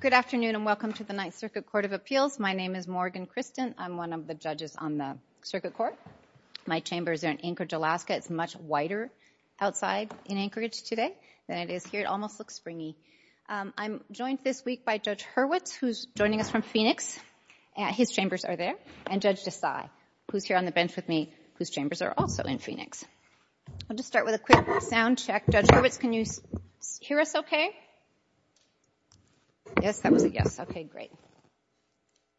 Good afternoon and welcome to the Ninth Circuit Court of Appeals. My name is Morgan Christen. I'm one of the judges on the circuit court. My chambers are in Anchorage, Alaska. It's much wider outside in Anchorage today than it is here. It almost looks springy. I'm joined this week by Judge Hurwitz, who's joining us from Phoenix. His chambers are there. And Judge Desai, who's here on the bench with me, whose chambers are also in Phoenix. I'll just start with a quick sound check. Judge Hurwitz, can you hear us okay? Yes, that was a yes. Okay, great.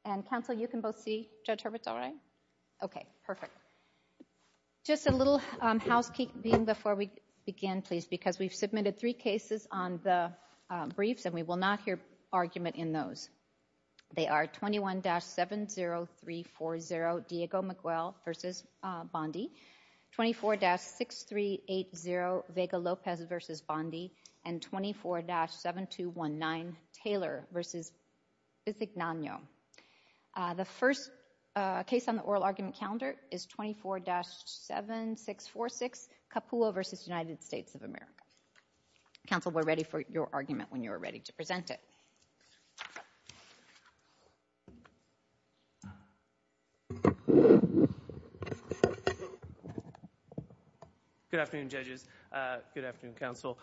And counsel, you can both see Judge Hurwitz all right? Okay, perfect. Just a little housekeeping before we begin, please, because we've submitted three cases on the briefs, and we will not hear argument in those. They are 21-70340, Diego McGuell v. Bondi, 24-6380, Vega Lopez v. Bondi, and 24-7219, Taylor v. Bizignano. The first case on the oral argument calendar is 24-7646, Capullo v. United States of America. Counsel, we're ready for your argument when you are ready to present it. Good afternoon, judges. Good afternoon, counsel.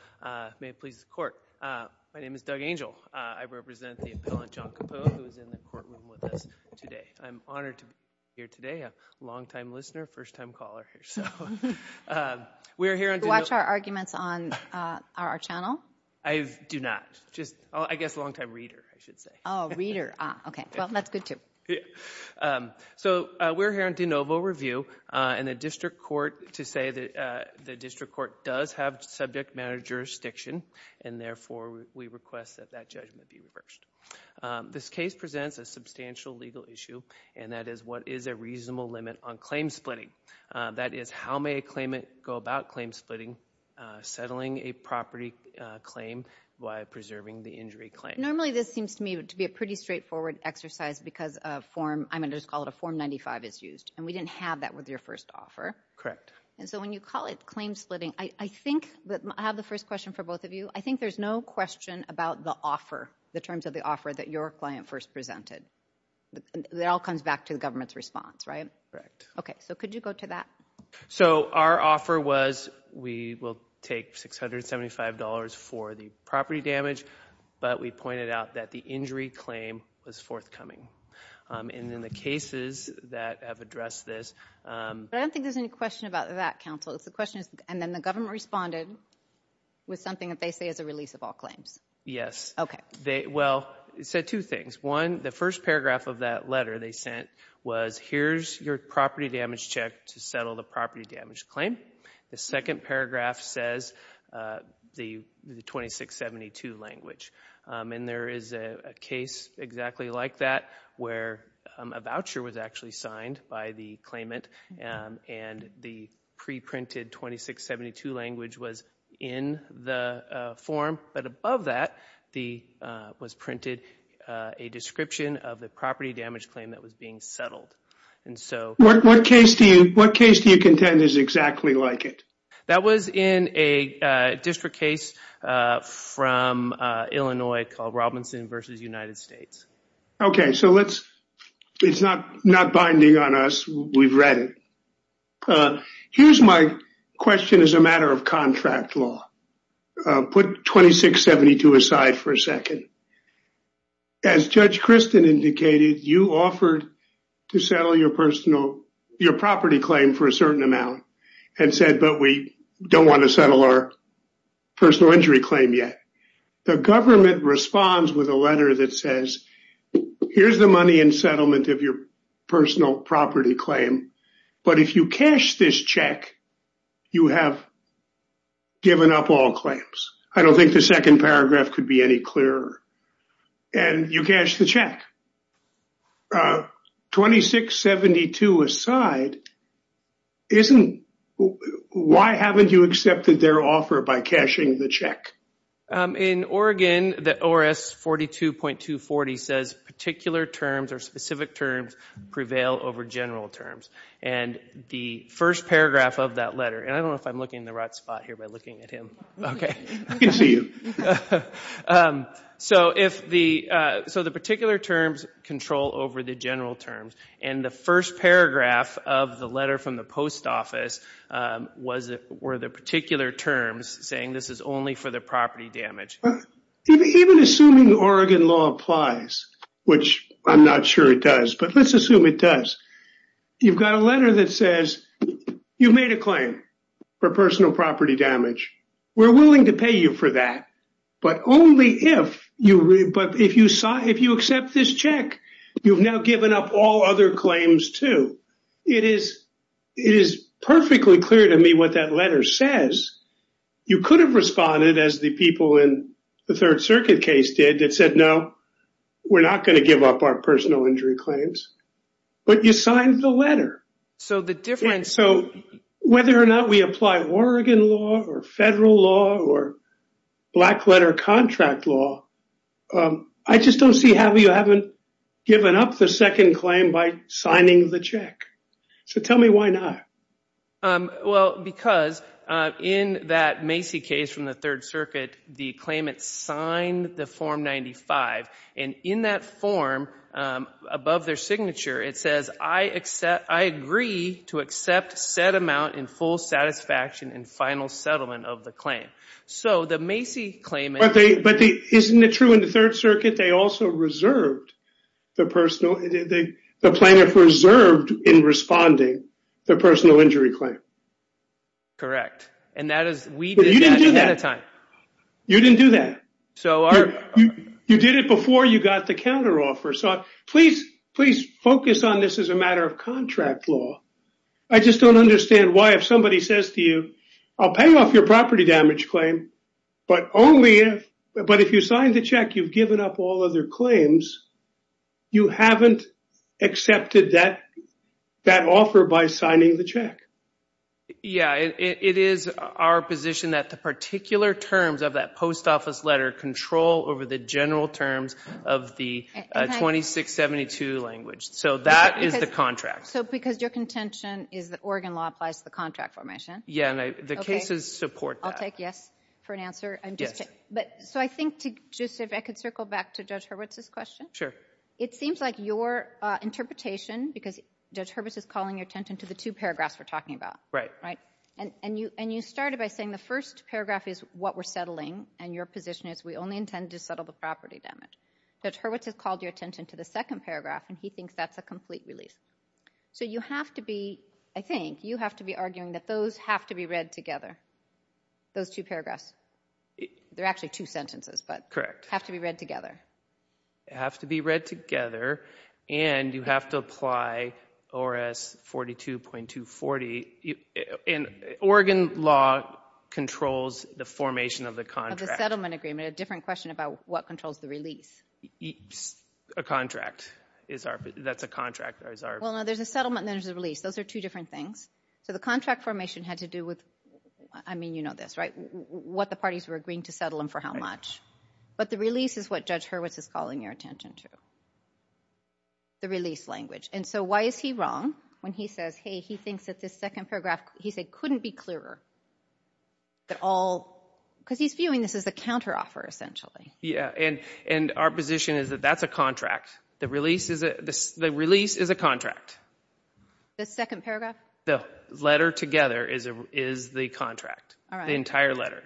May it please the court. My name is Doug Angel. I represent the appellant, John Capullo, who is in the courtroom with us today. I'm honored to be here today, a long-time listener, first-time caller. We're here on de novo... Do you watch our arguments on our channel? I do not. I guess long-time reader, I should say. Oh, reader. Okay. Well, that's good, too. We're here on de novo review, and the district court, to say that the district court does have subject matter jurisdiction, and therefore, we request that that judgment be reversed. This case presents a substantial legal issue, and that is, what is a reasonable limit on claim-splitting? That is, how may a claimant go about claim-splitting, settling a property claim by preserving the injury claim? Normally, this seems to me to be a pretty straightforward exercise because a form... I'm going to just call it a Form 95 is used, and we didn't have that with your first offer. Correct. And so, when you call it claim-splitting, I think that... I have the first question for both of you. I think there's no question about the offer, the terms of the offer that your client first presented. That all comes back to the government's response, right? Correct. Okay. So, could you go to that? So, our offer was, we will take $675 for the property damage, but we pointed out that the injury claim was forthcoming. And in the cases that have addressed this... I don't think there's any question about that, counsel. The question is... and then the government responded with something that they say is a release of all claims. Yes. Okay. Well, it said two things. One, the first paragraph of that letter they sent was, here's your property damage check to settle the property damage claim. The second paragraph says the 2672 language. And there is a case exactly like that, where a voucher was actually signed by the claimant and the pre-printed 2672 language was in the form. But above that, was printed a description of the property damage claim that was being settled. And so... What case do you contend is exactly like it? That was in a district case from Illinois called Robinson v. United States. Okay. So, let's... It's not binding on us. We've read it. Here's my question as a matter of contract law. Put 2672 aside for a second. As Judge Christin indicated, you offered to settle your personal... your property claim for a certain amount and said, but we don't want to settle our personal injury claim yet. The government responds with a letter that says, here's the money in settlement of your personal property claim. But if you cash this check, you have given up all claims. I don't think the second paragraph could be any clearer. And you cashed the check. 2672 aside, isn't... Why haven't you accepted their offer by cashing the check? In Oregon, the ORS 42.240 says particular terms or specific terms prevail over general terms. And the first paragraph of that letter... And I don't know if I'm looking in the right spot here by looking at him. Okay. I can see you. So, if the... So, the particular terms control over the general terms. And the first paragraph of the letter from the post office were the particular terms saying this is only for the damage. Even assuming Oregon law applies, which I'm not sure it does, but let's assume it does. You've got a letter that says you've made a claim for personal property damage. We're willing to pay you for that. But only if you... But if you accept this check, you've now given up all other claims too. It is perfectly clear to me what that letter says. You could have responded as the people in the third circuit case did that said, no, we're not going to give up our personal injury claims. But you signed the letter. So, the difference... So, whether or not we apply Oregon law or federal law or black letter contract law, I just don't see how you haven't given up the second claim by signing the check. So, tell me why not? Well, because in that Macy case from the third circuit, the claimant signed the form 95. And in that form, above their signature, it says, I agree to accept said amount in full satisfaction and final settlement of the claim. So, the Macy claimant... But isn't it true in the third circuit, they also reserved the personal... The plaintiff reserved in responding the personal injury claim. Correct. And that is... You didn't do that. You didn't do that. You did it before you got the counteroffer. So, please focus on this as a matter of contract law. I just don't understand why if somebody says to you, I'll pay off your property damage claim, but only if... But if you signed the check, you've given up all other claims, you haven't accepted that offer by signing the check. Yeah, it is our position that the particular terms of that post office letter control over the general terms of the 2672 language. So, that is the contract. So, because your contention is that Oregon law applies to the contract formation. Yeah, and the cases support that. I'll take yes for an answer. So, I think to just, if I could circle back to Judge Hurwitz's question. It seems like your interpretation, because Judge Hurwitz is calling your attention to the two paragraphs we're talking about. Right. Right. And you started by saying the first paragraph is what we're settling, and your position is we only intend to settle the property damage. Judge Hurwitz has called your attention to the second paragraph, and he thinks that's a complete release. So, you have to be, I think, you have to be arguing that those have to be read together, those two paragraphs. They're actually two sentences, but have to be read together. They have to be read together, and you have to apply ORS 42.240. And Oregon law controls the formation of the contract. Of the settlement agreement. A different question about what controls the release. A contract. That's a contract. Well, no, there's a settlement, and then there's a release. Those are two different things. So, the contract formation had to do with, I mean, you know this, right? What the parties were agreeing to settle, and for how much. But the release is what Judge Hurwitz is calling your attention to. The release language. And so, why is he wrong when he says, hey, he thinks that this second paragraph, he said, couldn't be clearer. That all, because he's viewing this as a counteroffer, essentially. Yeah, and our position is that that's a contract. The release is a contract. The second paragraph? The letter together is the contract. The entire letter.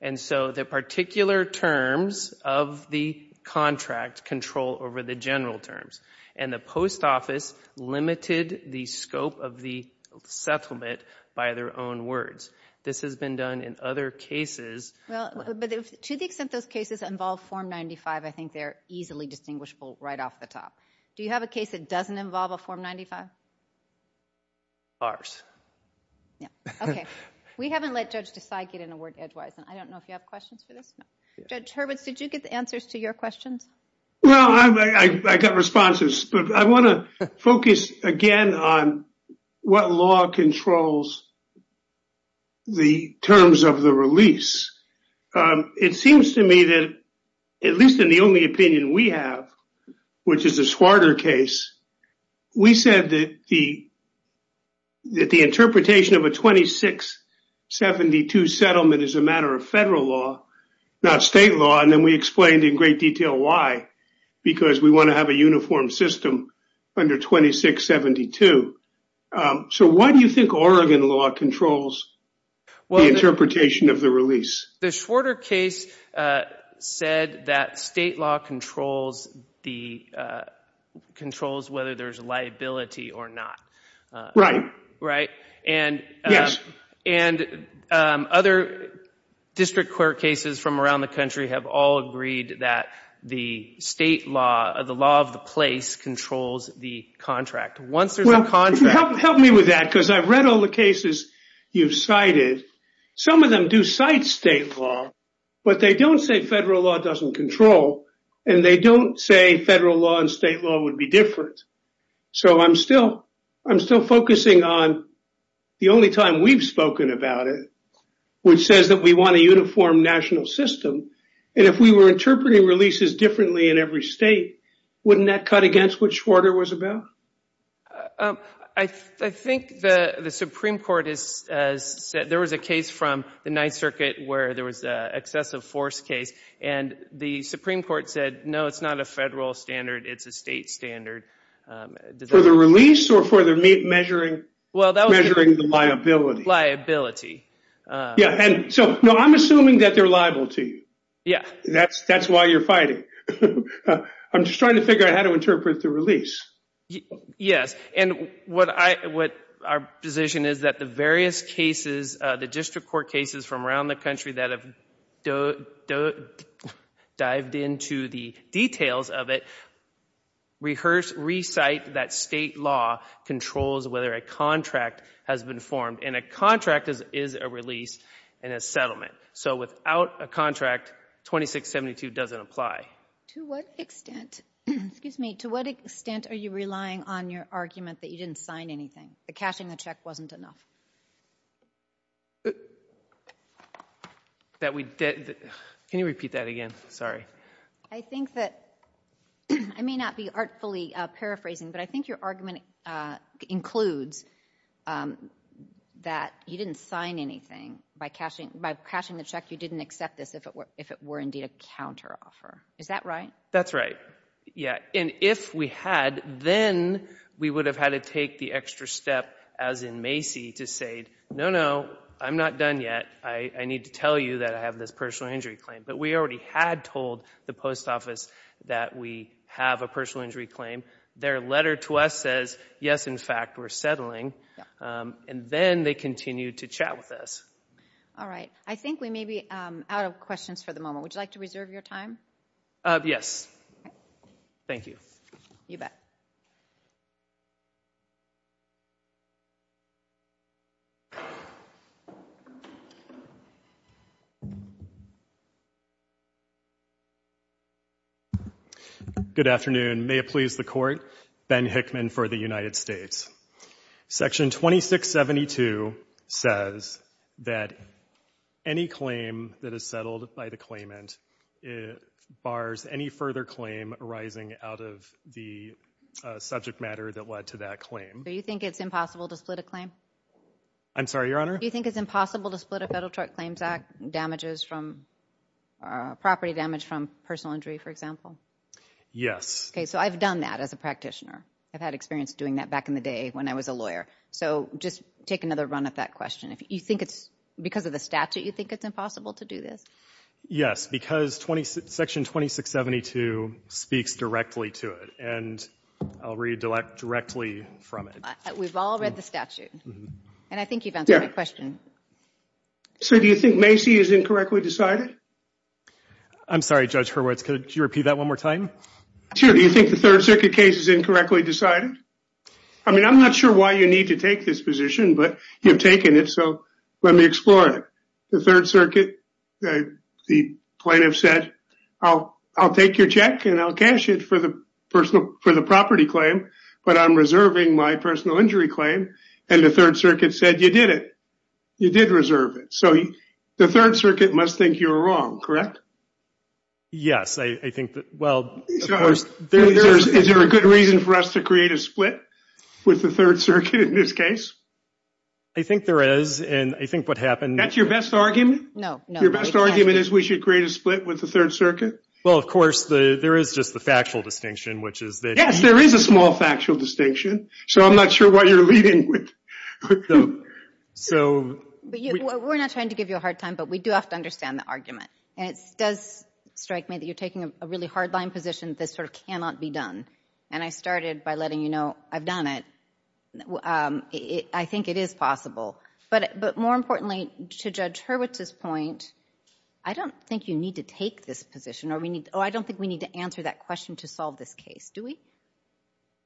And so, the particular terms of the contract control over the general terms. And the post office limited the scope of the settlement by their own words. This has been done in other cases. Well, but to the extent those cases involve Form 95, I think they're easily distinguishable right off the top. Do you have a case that doesn't involve a Form 95? Ours. Yeah, okay. We haven't let Judge Desai get in a word edgewise, and I don't know if you have questions for this. Judge Hurwitz, did you get the answers to your questions? Well, I got responses, but I want to focus again on what law controls the terms of the release. It seems to me that, at least in the only opinion we have, which is the Schwarter case, we said that the interpretation of a 2672 settlement is a matter of federal law, not state law. And then we explained in great detail why, because we want to have a uniform system under 2672. So, why do you think Oregon law controls the interpretation of the release? The Schwarter case said that state law controls whether there's liability or not. Right. And other district court cases from around the country have all agreed that the state law, the law of the place, controls the contract. Well, help me with that, because I've read all the cases you've cited. Some of them do cite state law, but they don't say federal law doesn't control, and they don't say federal law and state law would be different. So, I'm still focusing on the only time we've spoken about it, which says that we want a uniform national system. And if we were interpreting releases differently in every state, wouldn't that cut against what Schwarter was about? I think the Supreme Court has said, there was a case from the Ninth Circuit where there was an excessive force case, and the Supreme Court said, no, it's not a federal standard, it's a state standard. For the release or for the measuring the liability? Liability. Yeah. And so, no, I'm assuming that they're liable to you. Yeah. That's why you're fighting. I'm just trying to figure out how to interpret the release. Yes. And what our position is that the various cases, the district court cases from around the country that have dived into the details of it, recite that state law controls whether a contract has been formed. And a contract is a release and a settlement. So, without a contract, 2672 doesn't apply. To what extent, excuse me, to what extent are you relying on your argument that you didn't sign anything, that cashing the check wasn't enough? Can you repeat that again? Sorry. I think that, I may not be artfully paraphrasing, but I think your argument includes that you didn't sign anything by cashing the check, you didn't accept this if it were a counteroffer. Is that right? That's right. Yeah. And if we had, then we would have had to take the extra step, as in Macy, to say, no, no, I'm not done yet. I need to tell you that I have this personal injury claim. But we already had told the post office that we have a personal injury claim. Their letter to us says, yes, in fact, we're settling. And then they continue to chat with us. All right. I think we may be out of questions for the moment. Would you like to reserve your time? Yes. Thank you. You bet. Good afternoon. May it please the Court, Ben Hickman for the United States. Section 2672 says that any claim that is settled by the claimant bars any further claim arising out of the subject matter that led to that claim. Do you think it's impossible to split a claim? I'm sorry, Your Honor? Do you think it's impossible to split a Federal Tort Claims Act damages from property damage from personal injury, for example? Yes. So I've done that as a practitioner. I've had experience doing that back in the day when I was a lawyer. So just take another run at that question. If you think it's because of the statute, you think it's impossible to do this? Yes, because Section 2672 speaks directly to it. And I'll read directly from it. We've all read the statute. And I think you've answered my question. So do you think Macy is incorrectly decided? I'm sorry, Judge Hurwitz. Could you repeat that one more time? Do you think the Third Circuit case is incorrectly decided? I mean, I'm not sure why you need to take this position, but you've taken it. So let me explore it. The Third Circuit, the plaintiff said, I'll take your check and I'll cash it for the property claim. But I'm reserving my personal injury claim. And the Third Circuit said, you did it. You did reserve it. So the Third Circuit must think you're wrong, correct? Yes, I think that, well, of course... Is there a good reason for us to create a split with the Third Circuit in this case? I think there is. And I think what happened... That's your best argument? No, no. Your best argument is we should create a split with the Third Circuit? Well, of course, there is just the factual distinction, which is that... Yes, there is a small factual distinction. So I'm not sure what you're leading with. So... We're not trying to give you a hard time, but we do have to understand the argument. And it does strike me that you're taking a really hard line position that sort of cannot be done. And I started by letting you know I've done it. I think it is possible. But more importantly, to Judge Hurwitz's point, I don't think you need to take this position or we need... Oh, I don't think we need to answer that question to solve this case, do we?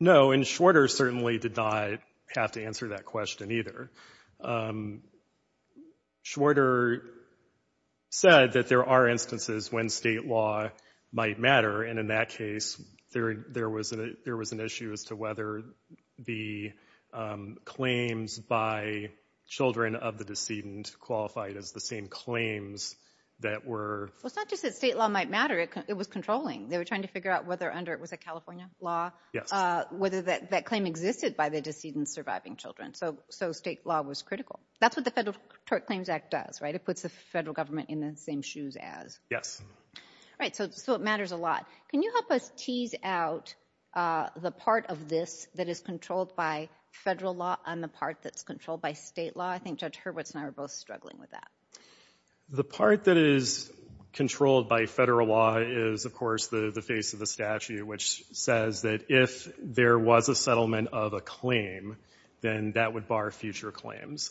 No, and Schwarter certainly did not have to answer that question either. Schwarter said that there are instances when state law might matter. And in that case, there was an issue as to whether the claims by children of the decedent qualified as the same claims that were... Well, it's not just that state law might matter. It was controlling. They were trying to figure out whether under... Was it California law? Yes. Whether that claim existed by the decedent surviving children. So state law was critical. That's what the Federal Tort Claims Act does, right? It puts the federal government in the same shoes as... Right, so it matters a lot. Can you help us tease out the part of this that is controlled by federal law and the part that's controlled by state law? I think Judge Hurwitz and I are both struggling with that. The part that is controlled by federal law is, of course, the face of the statute, which says that if there was a settlement of a claim, then that would bar future claims.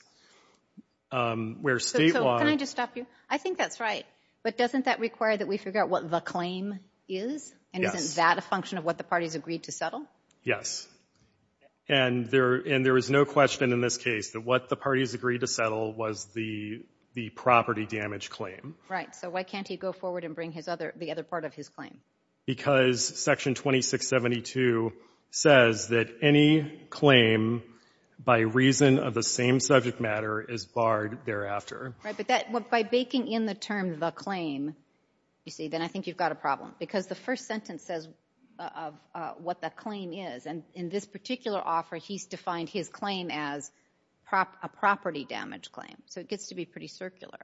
Where state law... Can I just stop you? I think that's right. But doesn't that require that we figure out what the claim is? And isn't that a function of what the parties agreed to settle? Yes. And there is no question in this case that what the parties agreed to settle was the property damage claim. Right, so why can't he go forward and bring the other part of his claim? Because Section 2672 says that any claim by reason of the same subject matter is barred thereafter. Right, but by baking in the term the claim, you see, then I think you've got a problem. Because the first sentence says what the claim is. And in this particular offer, he's defined his claim as a property damage claim. So it gets to be pretty circular.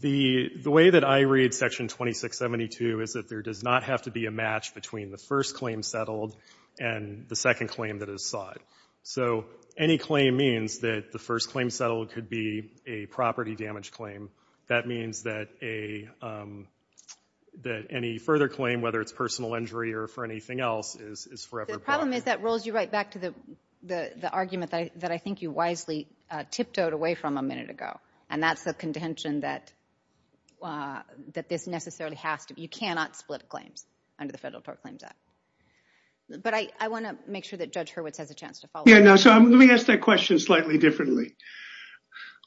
The way that I read Section 2672 is that there does not have to be a match between the first claim settled and the second claim that is sought. So any claim means that the first claim settled could be a property damage claim. That means that any further claim, whether it's personal injury or for anything else, is forever barred. The problem is that rolls you right back to the argument that I think you wisely tiptoed away from a minute ago. And that's the contention that this necessarily has to be. You cannot split claims under the Federal Tort Claims Act. But I want to make sure that Judge Hurwitz has a chance to follow up. Yeah, now, so let me ask that question slightly differently.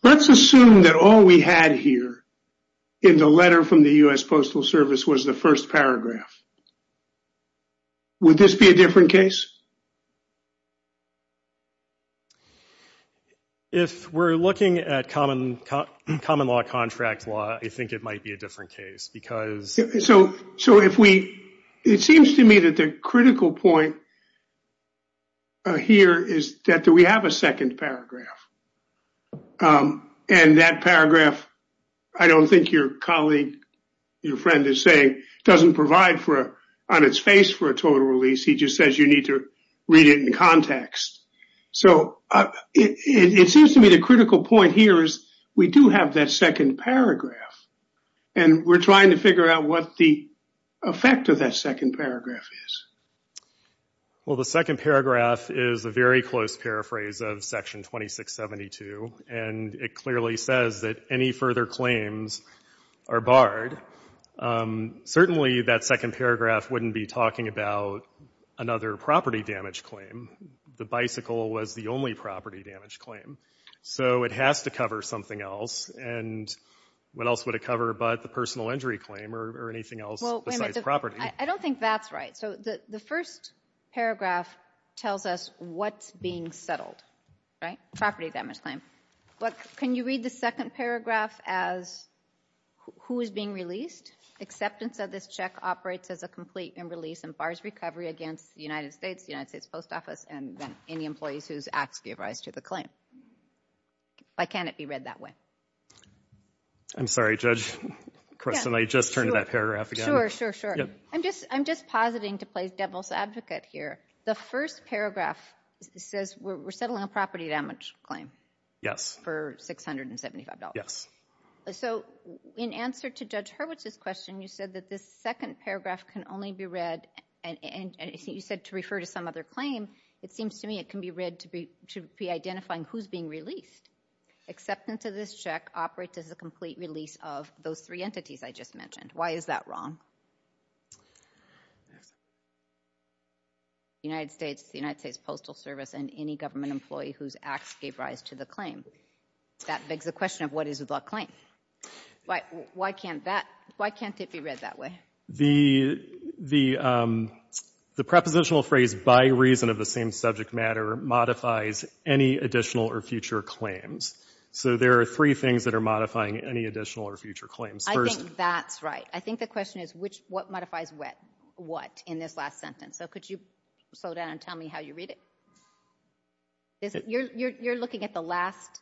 Let's assume that all we had here in the letter from the U.S. Postal Service was the first paragraph. Would this be a different case? If we're looking at common law contract law, I think it might be a different case, because... So it seems to me that the critical point here is that we have a second paragraph. And that paragraph, I don't think your colleague, your friend is saying, doesn't provide for, on its face, for a total release. He just says you need to account for a total release. Read it in context. So it seems to me the critical point here is we do have that second paragraph. And we're trying to figure out what the effect of that second paragraph is. Well, the second paragraph is a very close paraphrase of Section 2672. And it clearly says that any further claims are barred. Certainly, that second paragraph wouldn't be talking about another property damage claim. The bicycle was the only property damage claim. So it has to cover something else. And what else would it cover but the personal injury claim or anything else besides property? I don't think that's right. So the first paragraph tells us what's being settled, right? Property damage claim. But can you read the second paragraph as who is being released? Acceptance of this check operates as a complete and release and bars recovery against the United States, the United States Post Office, and any employees whose acts give rise to the claim. Why can't it be read that way? I'm sorry, Judge Kress. Can I just turn to that paragraph again? Sure, sure, sure. I'm just positing to play devil's advocate here. The first paragraph says we're settling a property damage claim. Yes. For $675. Yes. So in answer to Judge Hurwitz's question, you said that this second paragraph can only be read and you said to refer to some other claim. It seems to me it can be read to be to be identifying who's being released. Acceptance of this check operates as a complete release of those three entities I just mentioned. Why is that wrong? The United States, the United States Postal Service, and any government employee whose acts gave rise to the claim. That begs the question of what is the claim? Why can't that, why can't it be read that way? The, the, the prepositional phrase by reason of the same subject matter modifies any additional or future claims. So there are three things that are modifying any additional or future claims. I think that's right. I think the question is which, what modifies what in this last sentence? So could you slow down and tell me how you read it? Is it, you're, you're, you're looking at the last,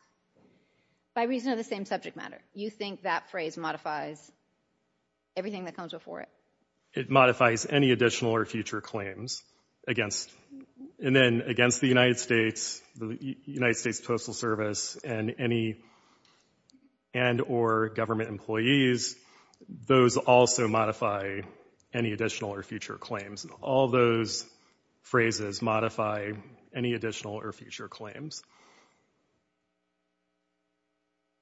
by reason of the same subject matter, you think that phrase modifies everything that comes before it? It modifies any additional or future claims against, and then against the United States, the United States Postal Service, and any, and or government employees, those also modify any additional or future claims. All those phrases modify any additional or future claims.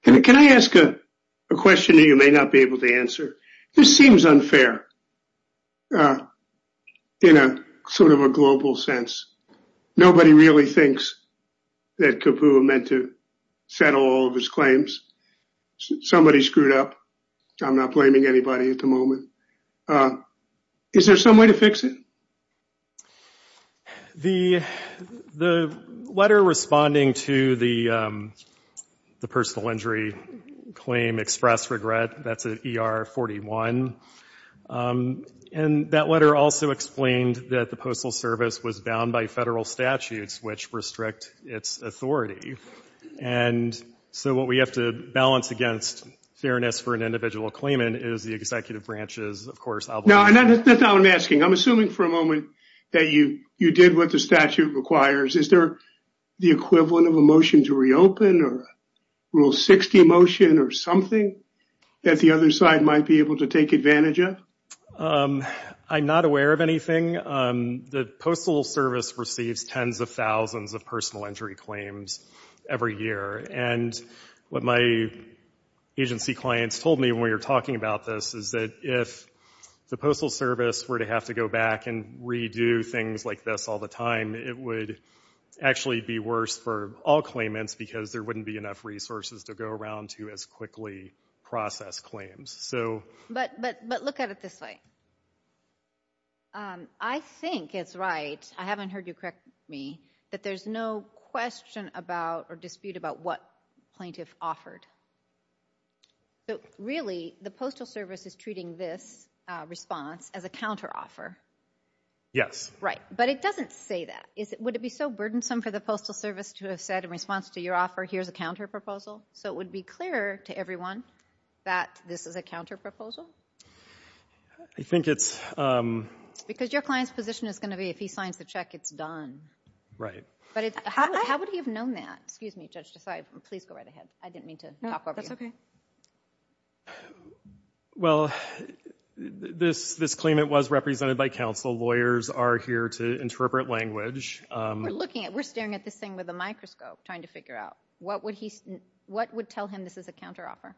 Can I ask a question that you may not be able to answer? This seems unfair in a sort of a global sense. Nobody really thinks that Kapoor meant to settle all of his claims. Somebody screwed up. I'm not blaming anybody at the moment. Uh, is there some way to fix it? The, the letter responding to the, um, the personal injury claim expressed regret. That's at ER 41. Um, and that letter also explained that the Postal Service was bound by federal statutes, which restrict its authority. And so what we have to balance against fairness for an individual claimant is the executive branches. Of course, I'll- No, that's not what I'm asking. I'm assuming for a moment that you, you did what the statute requires. Is there the equivalent of a motion to reopen or rule 60 motion or something that the other side might be able to take advantage of? Um, I'm not aware of anything. Um, the Postal Service receives tens of thousands of personal injury claims every year. And what my agency clients told me when we were talking about this is that if the Postal Service were to have to go back and redo things like this all the time, it would actually be worse for all claimants because there wouldn't be enough resources to go around to as quickly process claims. So- But, but, but look at it this way. Um, I think it's right, I haven't heard you correct me, that there's no question about or dispute about what plaintiff offered. So really, the Postal Service is treating this, uh, response as a counteroffer. Yes. Right. But it doesn't say that. Is it, would it be so burdensome for the Postal Service to have said in response to your offer, here's a counterproposal? So it would be clear to everyone that this is a counterproposal? I think it's, um- Because your client's position is going to be if he signs the check, it's done. Right. But it's, how, how would he have known that? Excuse me, Judge Desai, please go right ahead. I didn't mean to talk over you. No, that's okay. Well, this, this claimant was represented by counsel. Lawyers are here to interpret language, um- We're looking at, we're staring at this thing with a microscope trying to figure out what would he, what would tell him this is a counteroffer?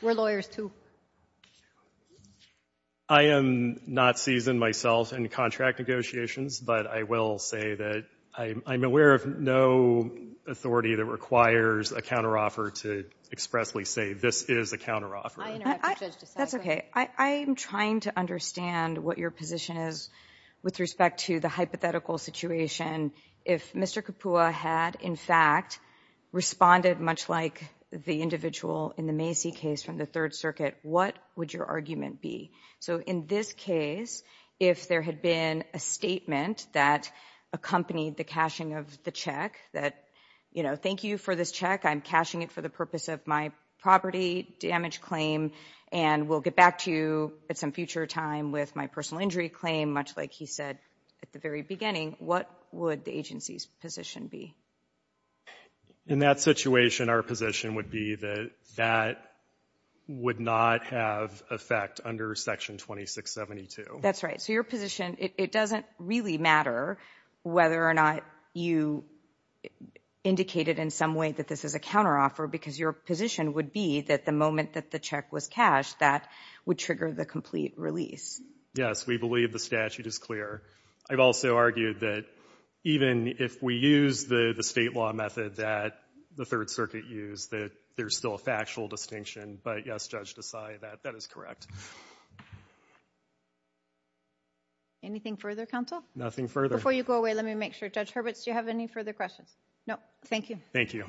We're lawyers too. I am not seasoned myself in contract negotiations, but I will say that I'm, I'm aware of no authority that requires a counteroffer to expressly say this is a counteroffer. I interrupted Judge Desai. That's okay. I, I'm trying to understand what your position is with respect to the hypothetical situation. If Mr. Kapua had, in fact, responded much like the individual in the Macy case from the Third Circuit, what would your argument be? So in this case, if there had been a statement that accompanied the cashing of the check, that, you know, thank you for this check, I'm cashing it for the purpose of my property damage claim, and we'll get back to you at some future time with my personal injury claim, much like he said at the very beginning, what would the agency's position be? In that situation, our position would be that that would not have effect under Section 2672. That's right. So your position, it doesn't really matter whether or not you indicated in some way that this is a counteroffer, because your position would be that the moment that the check was cashed, that would trigger the complete release. Yes, we believe the statute is clear. I've also argued that even if we use the state law method that the Third Circuit used, that there's still a factual distinction. But yes, Judge Desai, that is correct. Anything further, counsel? Nothing further. Before you go away, let me make sure. Judge Hurwitz, do you have any further questions? No. Thank you. Thank you.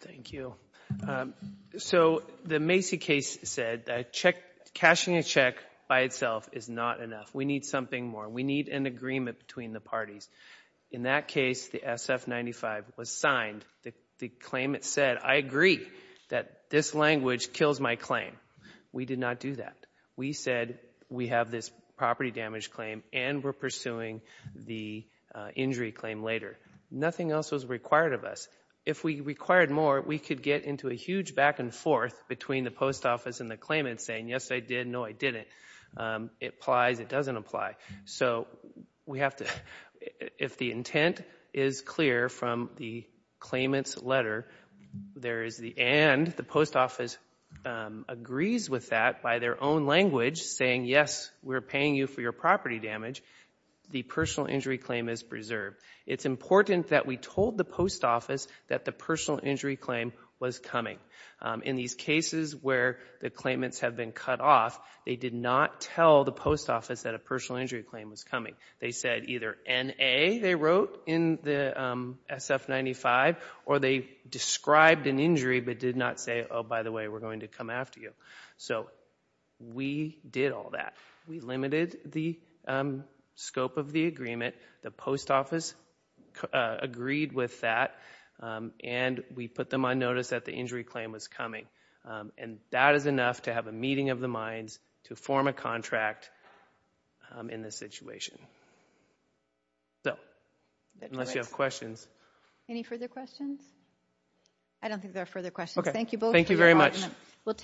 Thank you. So the Macy case said that cashing a check by itself is not enough. We need something more. We need an agreement between the parties. In that case, the SF-95 was signed. The claim, it said, I agree that this language kills my claim. We did not do that. We said we have this property damage claim and we're pursuing the injury claim later. Nothing else was required of us. If we required more, we could get into a huge back and forth between the post office and the claimant saying, yes, I did, no, I didn't. It applies. It doesn't apply. So we have to, if the intent is clear from the claimant's letter, there is the and. The post office agrees with that by their own language, saying, yes, we're paying you for your property damage. The personal injury claim is preserved. It's important that we told the post office that the personal injury claim was coming. In these cases where the claimants have been cut off, they did not tell the post office that a personal injury claim was coming. They said either N-A, they wrote in the SF-95, or they described an injury but did not say, oh, by the way, we're going to come after you. So we did all that. We limited the scope of the agreement. The post office agreed with that. And we put them on notice that the injury claim was coming. And that is enough to have a meeting of the minds to form a contract in this situation. So unless you have questions. Any further questions? I don't think there are further questions. Thank you both. Thank you very much. We'll take.